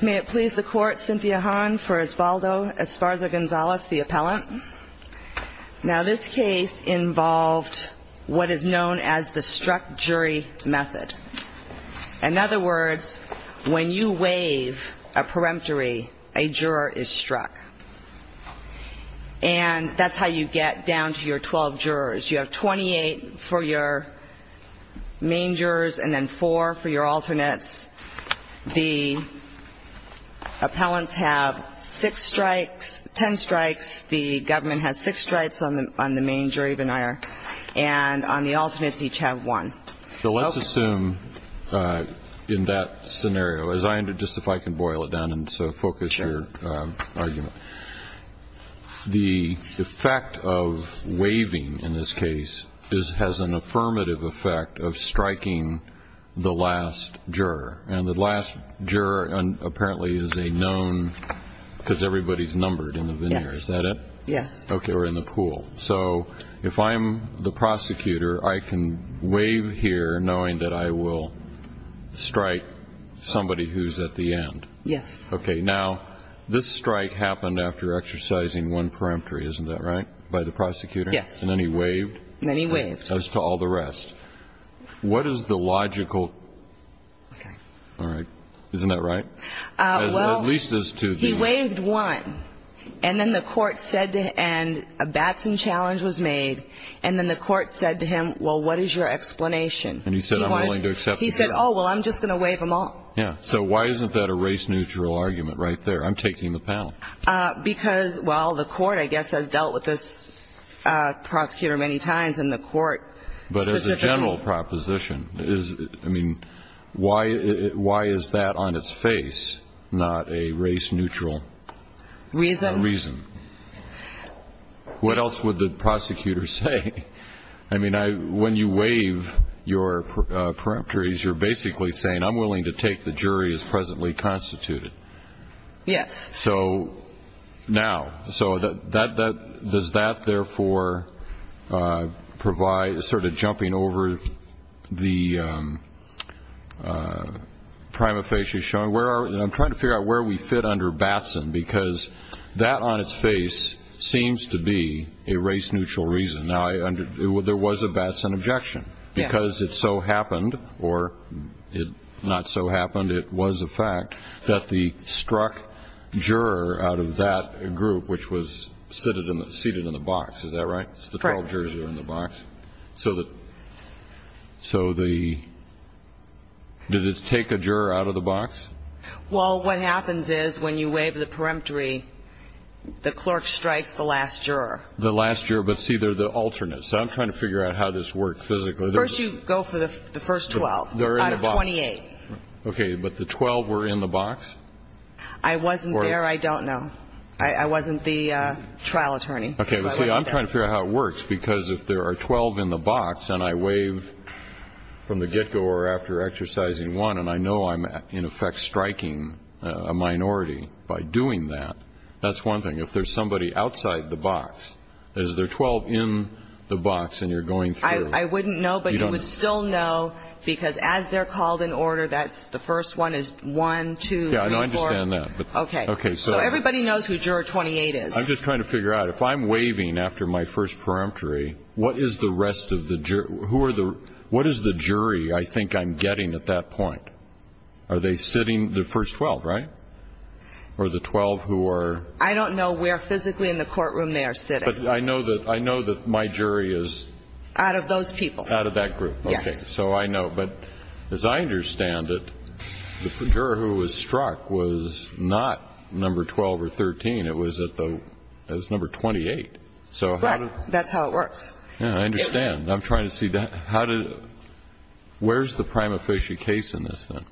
May it please the court, Cynthia Hahn for Esparza-Gonzalez, the appellant. Now this case involved what is known as the struck jury method. In other words, when you waive a peremptory, a juror is struck. And that's how you get down to your 12 jurors. You have 28 for your main jurors and then 4 for your alternates. The appellants have 6 strikes, 10 strikes. The government has 6 strikes on the main jury venire. And on the alternates, each have 1. So let's assume in that scenario, just if I can boil it down and so focus your argument. Sure. The effect of waiving in this case has an affirmative effect of striking the last juror. And the last juror apparently is a known, because everybody's numbered in the venire. Yes. Is that it? Yes. Okay, or in the pool. So if I'm the prosecutor, I can waive here knowing that I will strike somebody who's at the end. Yes. Okay, now, this strike happened after exercising 1 peremptory, isn't that right, by the prosecutor? Yes. And then he waived. And then he waived. As to all the rest. What is the logical? Okay. All right. Isn't that right? Well, he waived 1. And then the court said to him, and a Batson challenge was made. And then the court said to him, well, what is your explanation? And he said, I'm willing to accept it. He said, oh, well, I'm just going to waive them all. Yeah. So why isn't that a race-neutral argument right there? I'm taking the panel. Because, well, the court, I guess, has dealt with this prosecutor many times, and the court specifically. But as a general proposition, I mean, why is that on its face, not a race-neutral reason? A reason. What else would the prosecutor say? I mean, when you waive your peremptories, you're basically saying I'm willing to take the jury as presently constituted. Yes. So now. So does that, therefore, provide sort of jumping over the prima facie showing? I'm trying to figure out where we fit under Batson, because that on its face seems to be a race-neutral reason. Now, there was a Batson objection. Yes. Because it so happened, or it not so happened, it was a fact, that the struck juror out of that group, which was seated in the box. Is that right? Right. The 12 jurors were in the box. So did it take a juror out of the box? Well, what happens is when you waive the peremptory, the clerk strikes the last juror. The last juror, but, see, they're the alternate. So I'm trying to figure out how this works physically. First you go for the first 12 out of 28. Okay. But the 12 were in the box? I wasn't there. I don't know. I wasn't the trial attorney. Okay. But, see, I'm trying to figure out how it works, because if there are 12 in the box and I waive from the get-go or after exercising one, and I know I'm in effect striking a minority by doing that, that's one thing. If there's somebody outside the box, is there 12 in the box and you're going through? I wouldn't know, but you would still know, because as they're called in order, that's the first one is 1, 2, 3, 4. Yeah, I understand that. Okay. Okay. So everybody knows who juror 28 is. I'm just trying to figure out, if I'm waiving after my first peremptory, what is the rest of the jury? Who are the – what is the jury I think I'm getting at that point? Are they sitting, the first 12, right? Or the 12 who are – I don't know where physically in the courtroom they are sitting. But I know that my jury is – Out of those people. Out of that group. Yes. Okay. So I know. But as I understand it, the juror who was struck was not number 12 or 13. It was at the – it was number 28. So how do – Right. That's how it works. Yeah, I understand. I'm trying to see how to – where's the prima facie case in this, then?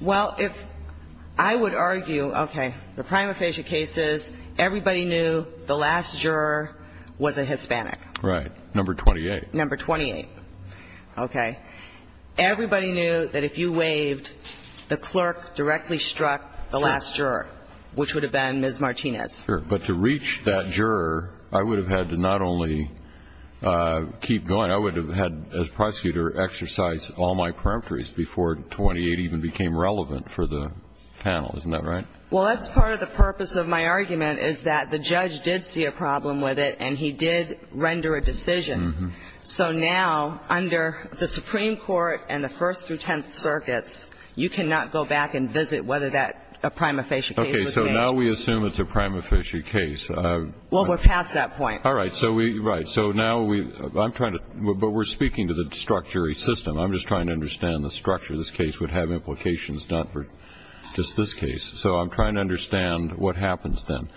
Well, if – I would argue – okay. The prima facie case is everybody knew the last juror was a Hispanic. Right. Number 28. Number 28. Okay. Everybody knew that if you waived, the clerk directly struck the last juror, which would have been Ms. Martinez. Sure. But to reach that juror, I would have had to not only keep going. I would have had, as prosecutor, exercise all my peremptories before 28 even became relevant for the panel. Isn't that right? Well, that's part of the purpose of my argument, is that the judge did see a problem with it, and he did render a decision. So now, under the Supreme Court and the First through Tenth Circuits, you cannot go back and visit whether that – a prima facie case was made. Okay. So now we assume it's a prima facie case. Well, we're past that point. So we – right. So now we – I'm trying to – but we're speaking to the structury system. I'm just trying to understand the structure of this case would have implications not for just this case. So I'm trying to understand what happens then.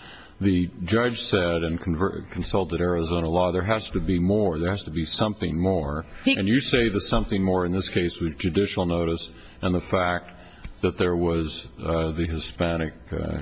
The judge said and consulted Arizona law, there has to be more. There has to be something more. And you say the something more in this case was judicial notice and the fact that there was the Hispanic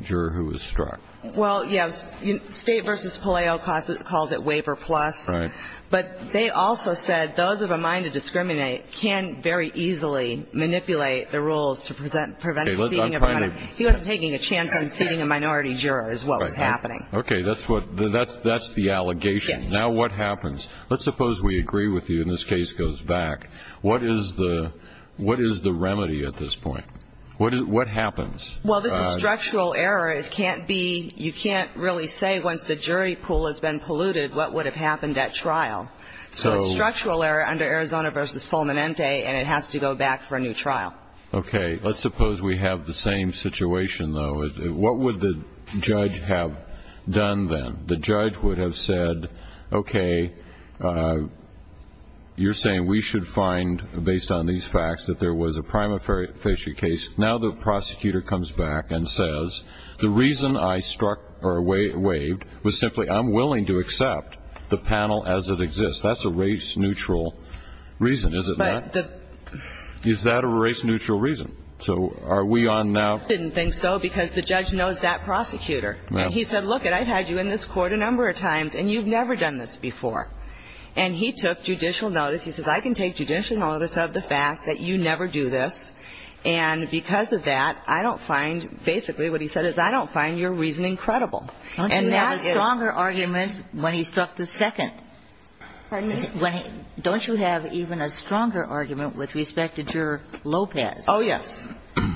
juror who was struck. Well, yes. State v. Palaio calls it waiver plus. Right. But they also said those of a mind to discriminate can very easily manipulate the rules to prevent the seating of a minority. He wasn't taking a chance on seating a minority juror is what was happening. Okay. That's what – that's the allegation. Yes. Now what happens? Let's suppose we agree with you and this case goes back. What is the remedy at this point? What happens? Well, this is structural error. It can't be – you can't really say once the jury pool has been polluted what would have happened at trial. So it's structural error under Arizona v. Fulminante, and it has to go back for a new trial. Okay. Let's suppose we have the same situation, though. What would the judge have done then? The judge would have said, okay, you're saying we should find, based on these facts, that there was a prima facie case. Now the prosecutor comes back and says, the reason I struck or waived was simply I'm willing to accept the panel as it exists. That's a race-neutral reason, is it not? Is that a race-neutral reason? So are we on now? I didn't think so because the judge knows that prosecutor. And he said, look it, I've had you in this court a number of times and you've never done this before. And he took judicial notice. He says, I can take judicial notice of the fact that you never do this. And because of that, I don't find – basically what he said is I don't find your reasoning credible. And that is – Don't you have a stronger argument when he struck the second? Pardon me? Don't you have even a stronger argument with respect to Juror Lopez? Oh, yes.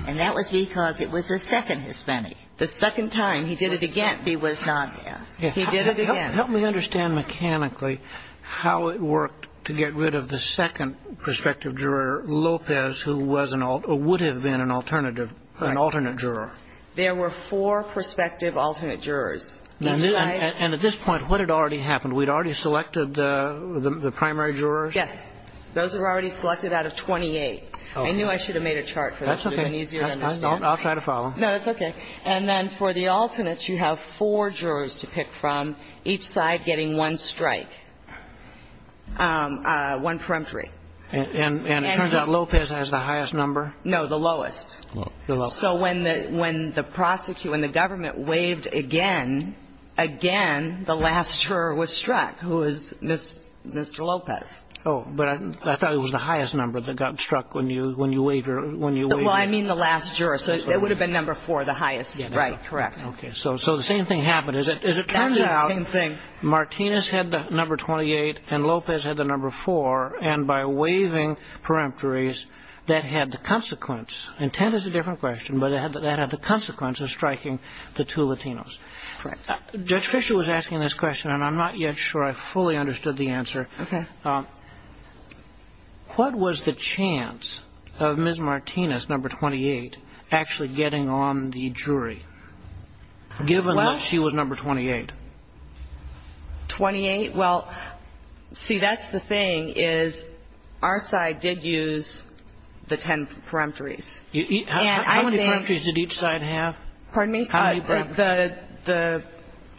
And that was because it was the second Hispanic. The second time. He did it again. He was not. He did it again. Help me understand mechanically how it worked to get rid of the second prospective juror, Lopez, who was an – or would have been an alternative, an alternate juror. There were four prospective alternate jurors. That's right. And at this point, what had already happened? We'd already selected the primary jurors? Yes. Those were already selected out of 28. I knew I should have made a chart for this. That's okay. It would have been easier to understand. I'll try to follow. No, it's okay. And then for the alternates, you have four jurors to pick from, each side getting one strike, one peremptory. And it turns out Lopez has the highest number? No, the lowest. The lowest. So when the prosecutor and the government waived again, again, the last juror was struck, who was Mr. Lopez. Oh. But I thought it was the highest number that got struck when you waived. Well, I mean the last juror. So it would have been number four, the highest. Right. Correct. Okay. So the same thing happened. As it turns out, Martinez had the number 28 and Lopez had the number four. And by waiving peremptories, that had the consequence. Intent is a different question. But that had the consequence of striking the two Latinos. Correct. Judge Fischer was asking this question, and I'm not yet sure I fully understood the answer. Okay. What was the chance of Ms. Martinez, number 28, actually getting on the jury, given that she was number 28? 28? Well, see, that's the thing, is our side did use the ten peremptories. How many peremptories did each side have? Pardon me? How many peremptories?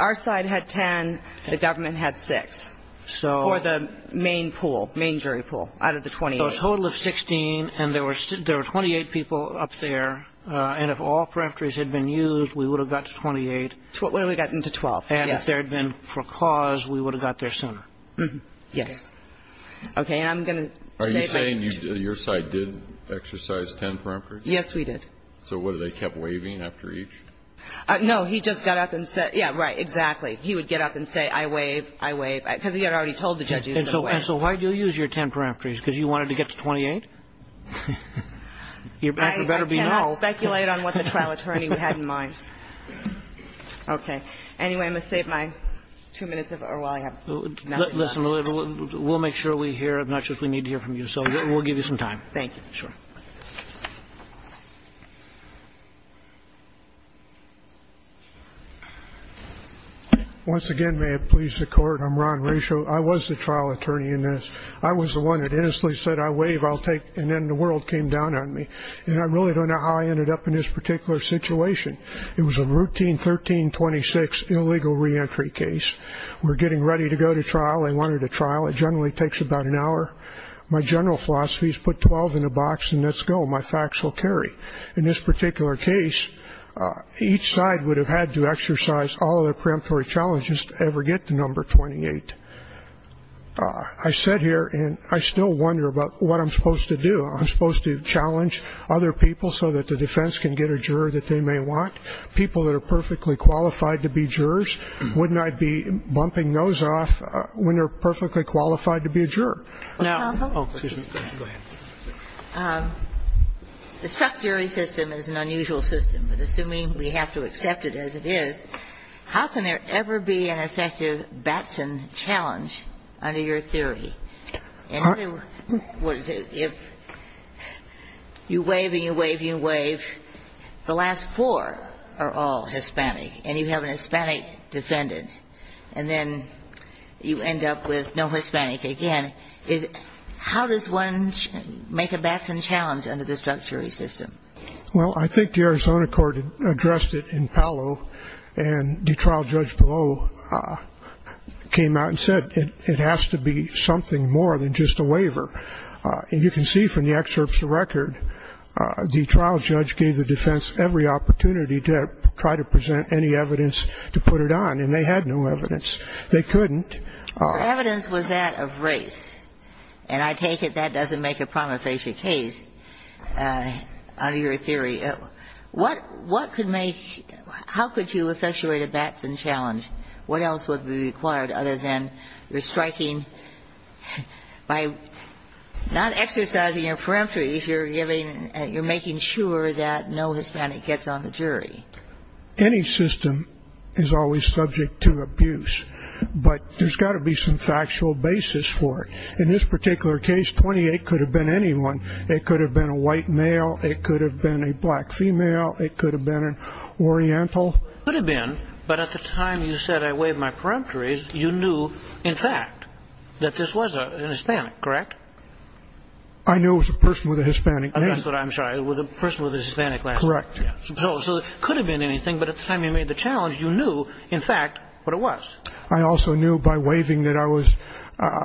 Our side had ten. The government had six. For the main pool, main jury pool, out of the 28. So a total of 16, and there were 28 people up there. And if all peremptories had been used, we would have got to 28. We would have gotten to 12, yes. And if there had been for cause, we would have got there sooner. Yes. Okay. And I'm going to say that. Are you saying your side did exercise ten peremptories? Yes, we did. So what, did they kept waiving after each? No. He just got up and said yes, right, exactly. He would get up and say I waive, I waive. Because he had already told the judge he was going to waive. And so why did you use your ten peremptories? Because you wanted to get to 28? Your answer better be no. I cannot speculate on what the trial attorney had in mind. Okay. Anyway, I'm going to save my two minutes of our time. Listen, we'll make sure we hear. I'm not sure if we need to hear from you. So we'll give you some time. Thank you. Sure. Once again, may it please the Court, I'm Ron Rasho. I was the trial attorney in this. I was the one that innocently said I waive, I'll take, and then the world came down on me. And I really don't know how I ended up in this particular situation. It was a routine 1326 illegal reentry case. We're getting ready to go to trial. They wanted a trial. It generally takes about an hour. My general philosophy is put 12 in a box and let's go. My facts will carry. In this particular case, each side would have had to exercise all of their preemptory challenges to ever get to number 28. I sit here and I still wonder about what I'm supposed to do. I'm supposed to challenge other people so that the defense can get a juror that they may want. People that are perfectly qualified to be jurors, wouldn't I be bumping those off when they're perfectly qualified to be a juror? No. Oh, excuse me. Go ahead. The structury system is an unusual system, but assuming we have to accept it as it is, how can there ever be an effective Batson challenge under your theory? If you waive and you waive and you waive, the last four are all Hispanic and you have an Hispanic defendant. And then you end up with no Hispanic again. How does one make a Batson challenge under the structury system? Well, I think the Arizona court addressed it in Palo, and the trial judge below came out and said it has to be something more than just a waiver. And you can see from the excerpts of the record, the trial judge gave the defense every opportunity to try to present any evidence to put it on, and they had no evidence. They couldn't. The evidence was that of race. And I take it that doesn't make a prima facie case under your theory. What could make, how could you effectuate a Batson challenge? What else would be required other than you're striking, by not exercising your peremptory you're giving, you're making sure that no Hispanic gets on the jury. Any system is always subject to abuse. But there's got to be some factual basis for it. In this particular case, 28 could have been anyone. It could have been a white male. It could have been a black female. It could have been an Oriental. It could have been, but at the time you said I waive my peremptories, you knew in fact that this was an Hispanic, correct? I knew it was a person with a Hispanic name. That's what I'm trying, a person with a Hispanic last name. Correct. So it could have been anything, but at the time you made the challenge, you knew in fact what it was. I also knew by waiving that I was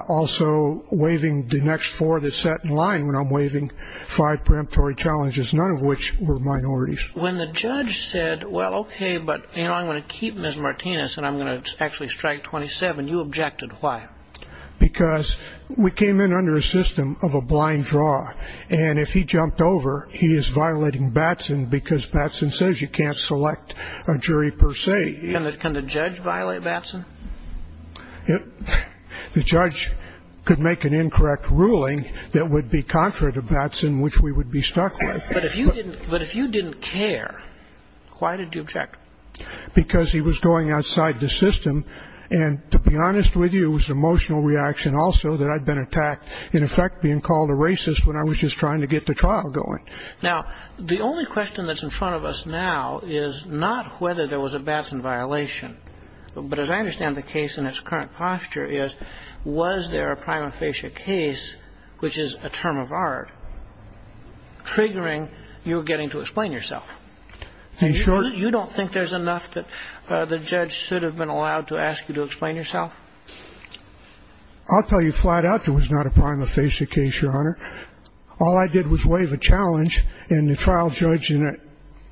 also waiving the next four that sat in line when I'm waiving five peremptory challenges, none of which were minorities. When the judge said, well, okay, but I'm going to keep Ms. Martinez and I'm going to actually strike 27, you objected. Why? Because we came in under a system of a blind draw. And if he jumped over, he is violating Batson because Batson says you can't select a jury per se. Can the judge violate Batson? The judge could make an incorrect ruling that would be contrary to Batson, which we would be stuck with. But if you didn't care, why did you object? Because he was going outside the system. And to be honest with you, it was emotional reaction also that I'd been attacked, in effect being called a racist when I was just trying to get the trial going. Now, the only question that's in front of us now is not whether there was a Batson violation. But as I understand the case in its current posture is, was there a prima facie case, which is a term of art, triggering your getting to explain yourself? You don't think there's enough that the judge should have been allowed to ask you to explain yourself? I'll tell you flat out there was not a prima facie case, Your Honor. All I did was wave a challenge, and the trial judge in it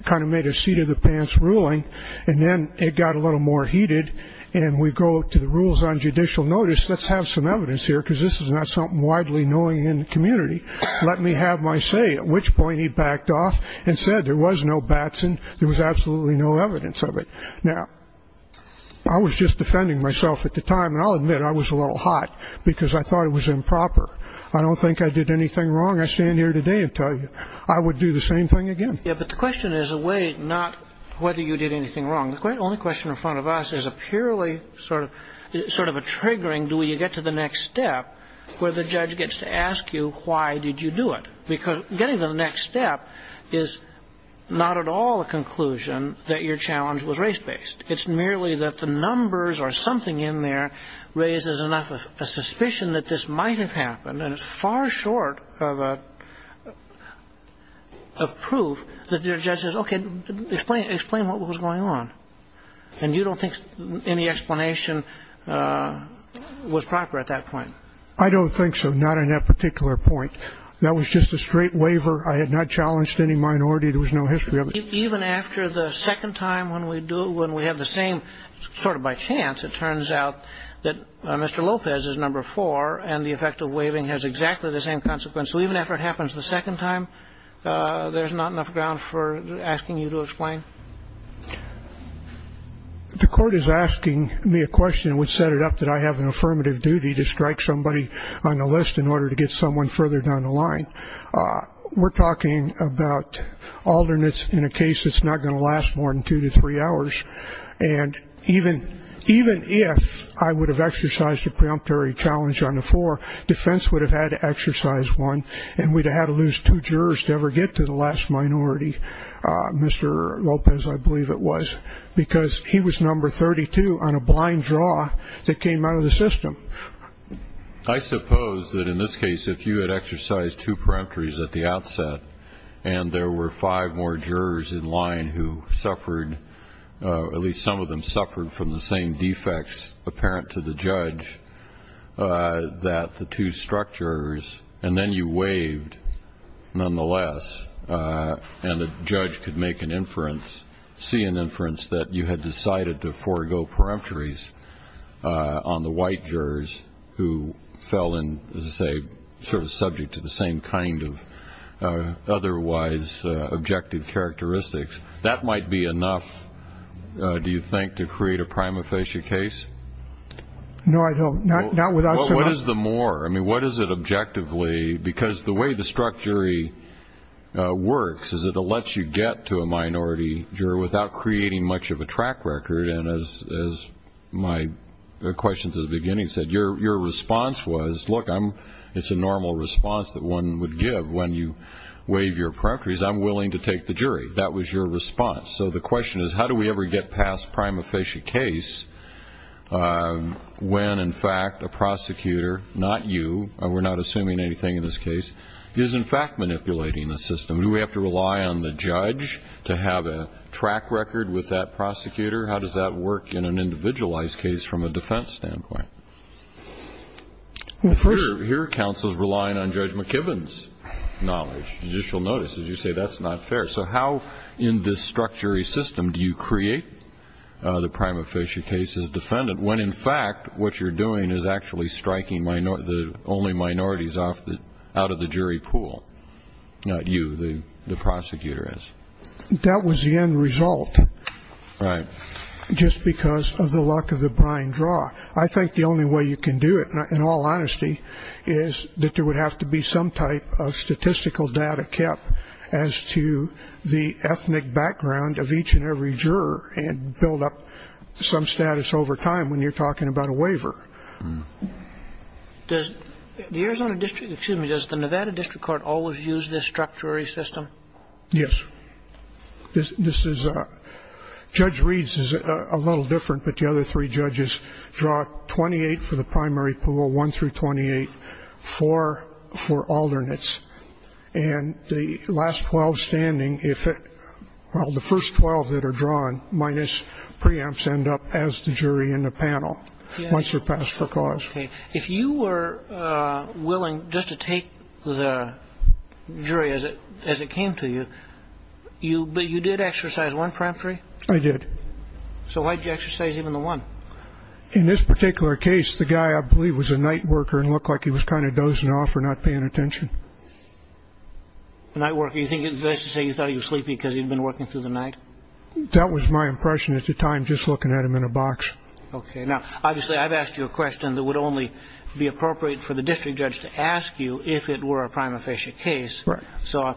kind of made a seat-of-the-pants ruling. And then it got a little more heated, and we go to the rules on judicial notice. Let's have some evidence here, because this is not something widely known in the community. Let me have my say, at which point he backed off and said there was no Batson. There was absolutely no evidence of it. Now, I was just defending myself at the time, and I'll admit I was a little hot because I thought it was improper. I don't think I did anything wrong. I stand here today and tell you I would do the same thing again. Yeah, but the question is a way not whether you did anything wrong. The only question in front of us is a purely sort of a triggering, do you get to the next step, where the judge gets to ask you why did you do it? Because getting to the next step is not at all a conclusion that your challenge was race-based. It's merely that the numbers or something in there raises enough of a suspicion that this might have happened, and it's far short of a proof that your judge says, okay, explain what was going on. And you don't think any explanation was proper at that point. I don't think so, not on that particular point. That was just a straight waiver. I had not challenged any minority. There was no history of it. Even after the second time when we do it, when we have the same sort of by chance, it turns out that Mr. Lopez is number four, and the effect of waiving has exactly the same consequence. So even after it happens the second time, there's not enough ground for asking you to explain? The court is asking me a question which set it up that I have an affirmative duty to strike somebody on a list in order to get someone further down the line. We're talking about alternates in a case that's not going to last more than two to three hours. And even if I would have exercised a preemptory challenge on the floor, defense would have had to exercise one, and we'd have had to lose two jurors to ever get to the last minority, Mr. Lopez, I believe it was, because he was number 32 on a blind draw that came out of the system. So I suppose that in this case, if you had exercised two preemptories at the outset and there were five more jurors in line who suffered, at least some of them suffered from the same defects apparent to the judge that the two struck jurors, and then you waived nonetheless and the judge could make an inference, see an inference that you had decided to forego preemptories on the white jurors who fell in, as I say, sort of subject to the same kind of otherwise objective characteristics. That might be enough, do you think, to create a prima facie case? No, I don't. Well, what is the more? much of a track record, and as my question to the beginning said, your response was, look, it's a normal response that one would give when you waive your preemptories. I'm willing to take the jury. That was your response. So the question is, how do we ever get past prima facie case when, in fact, a prosecutor, not you, we're not assuming anything in this case, is in fact manipulating the system? Do we have to rely on the judge to have a track record with that prosecutor? How does that work in an individualized case from a defense standpoint? Here counsel is relying on Judge McKibben's knowledge, judicial notice. As you say, that's not fair. So how in this struck jury system do you create the prima facie case as defendant when, in fact, what you're doing is actually striking the only minorities out of the jury pool? That's the end result. Not you, the prosecutor is. That was the end result. Right. Just because of the luck of the brine draw. I think the only way you can do it, in all honesty, is that there would have to be some type of statistical data kept as to the ethnic background of each and every juror and build up some status over time when you're talking about a waiver. Does the Arizona district – excuse me. Does the Nevada district court always use this struck jury system? Yes. This is – Judge Reed's is a little different, but the other three judges draw 28 for the primary pool, 1 through 28, 4 for alternates. And the last 12 standing, if it – well, the first 12 that are drawn minus preempts end up as the jury in the panel. Once they're passed for cause. Okay. If you were willing just to take the jury as it came to you, you – but you did exercise one preemptory? I did. So why did you exercise even the one? In this particular case, the guy, I believe, was a night worker and looked like he was kind of dozing off or not paying attention. A night worker. You think – that's to say you thought he was sleepy because he'd been working through the night? That was my impression at the time, just looking at him in a box. Okay. Now, obviously, I've asked you a question that would only be appropriate for the district judge to ask you if it were a prima facie case. Right. So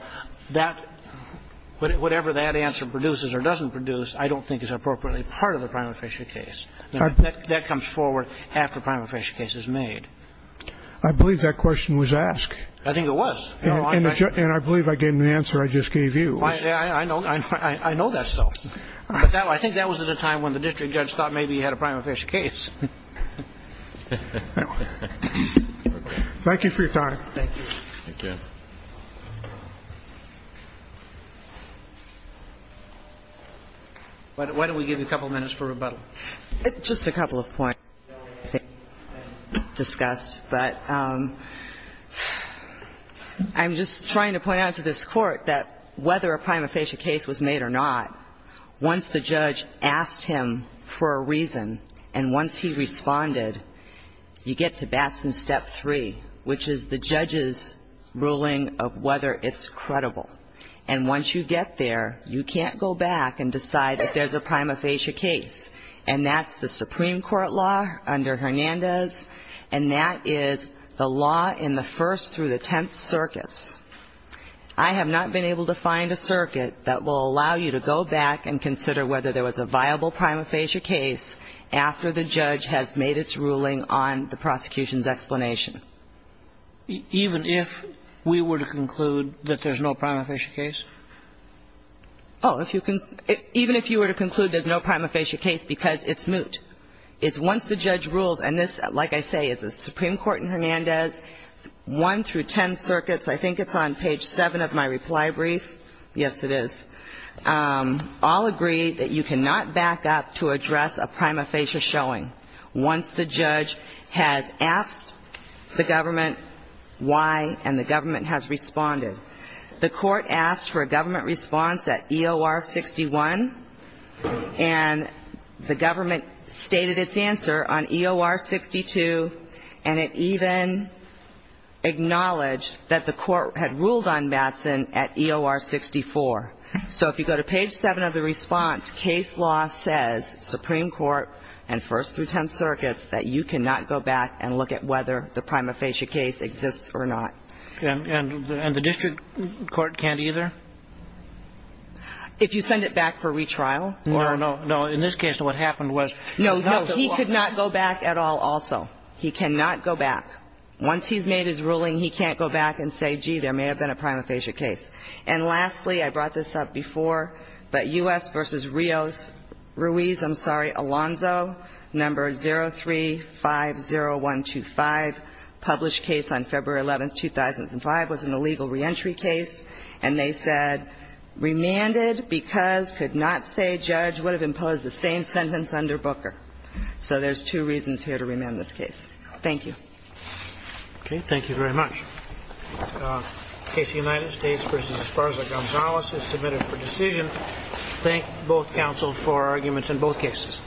that – whatever that answer produces or doesn't produce, I don't think is appropriately part of the prima facie case. That comes forward after a prima facie case is made. I believe that question was asked. I think it was. And I believe I gave an answer I just gave you. I know that's so. I think that was at a time when the district judge thought maybe he had a prima facie case. Thank you for your time. Thank you. Thank you. Why don't we give you a couple minutes for rebuttal? Just a couple of points, I think, discussed. But I'm just trying to point out to this Court that whether a prima facie case was made or not, once the judge asked him for a reason and once he responded, you get to Batson Step 3, which is the judge's ruling of whether it's credible. And once you get there, you can't go back and decide that there's a prima facie case. And that's the Supreme Court law under Hernandez, and that is the law in the First through the Tenth Circuits. I have not been able to find a circuit that will allow you to go back and consider whether there was a viable prima facie case after the judge has made its ruling on the prosecution's explanation. Even if we were to conclude that there's no prima facie case? Oh, even if you were to conclude there's no prima facie case because it's moot. It's once the judge rules, and this, like I say, is the Supreme Court in Hernandez, One through Ten Circuits, I think it's on page 7 of my reply brief. Yes, it is. All agree that you cannot back up to address a prima facie showing once the judge has asked the government why and the government has responded. The Court asked for a government response at EOR 61, and the government stated its answer on EOR 62, and it even acknowledged that the Court had ruled on Matson at EOR 64. So if you go to page 7 of the response, case law says, Supreme Court and First through Tenth Circuits, that you cannot go back and look at whether the prima facie case exists or not. And the district court can't either? If you send it back for retrial? No, no, no. In this case, what happened was it's not the law. He cannot go back at all also. He cannot go back. Once he's made his ruling, he can't go back and say, gee, there may have been a prima facie case. And lastly, I brought this up before, but U.S. v. Rios, Ruiz, I'm sorry, Alonzo, number 0350125, published case on February 11th, 2005, was an illegal reentry case, and they said, remanded because could not say judge would have imposed the same sentence under Booker. So there's two reasons here to remand this case. Thank you. Okay. Thank you very much. The case of the United States v. Esparza-Gonzalez is submitted for decision. Thank both counsels for arguments in both cases.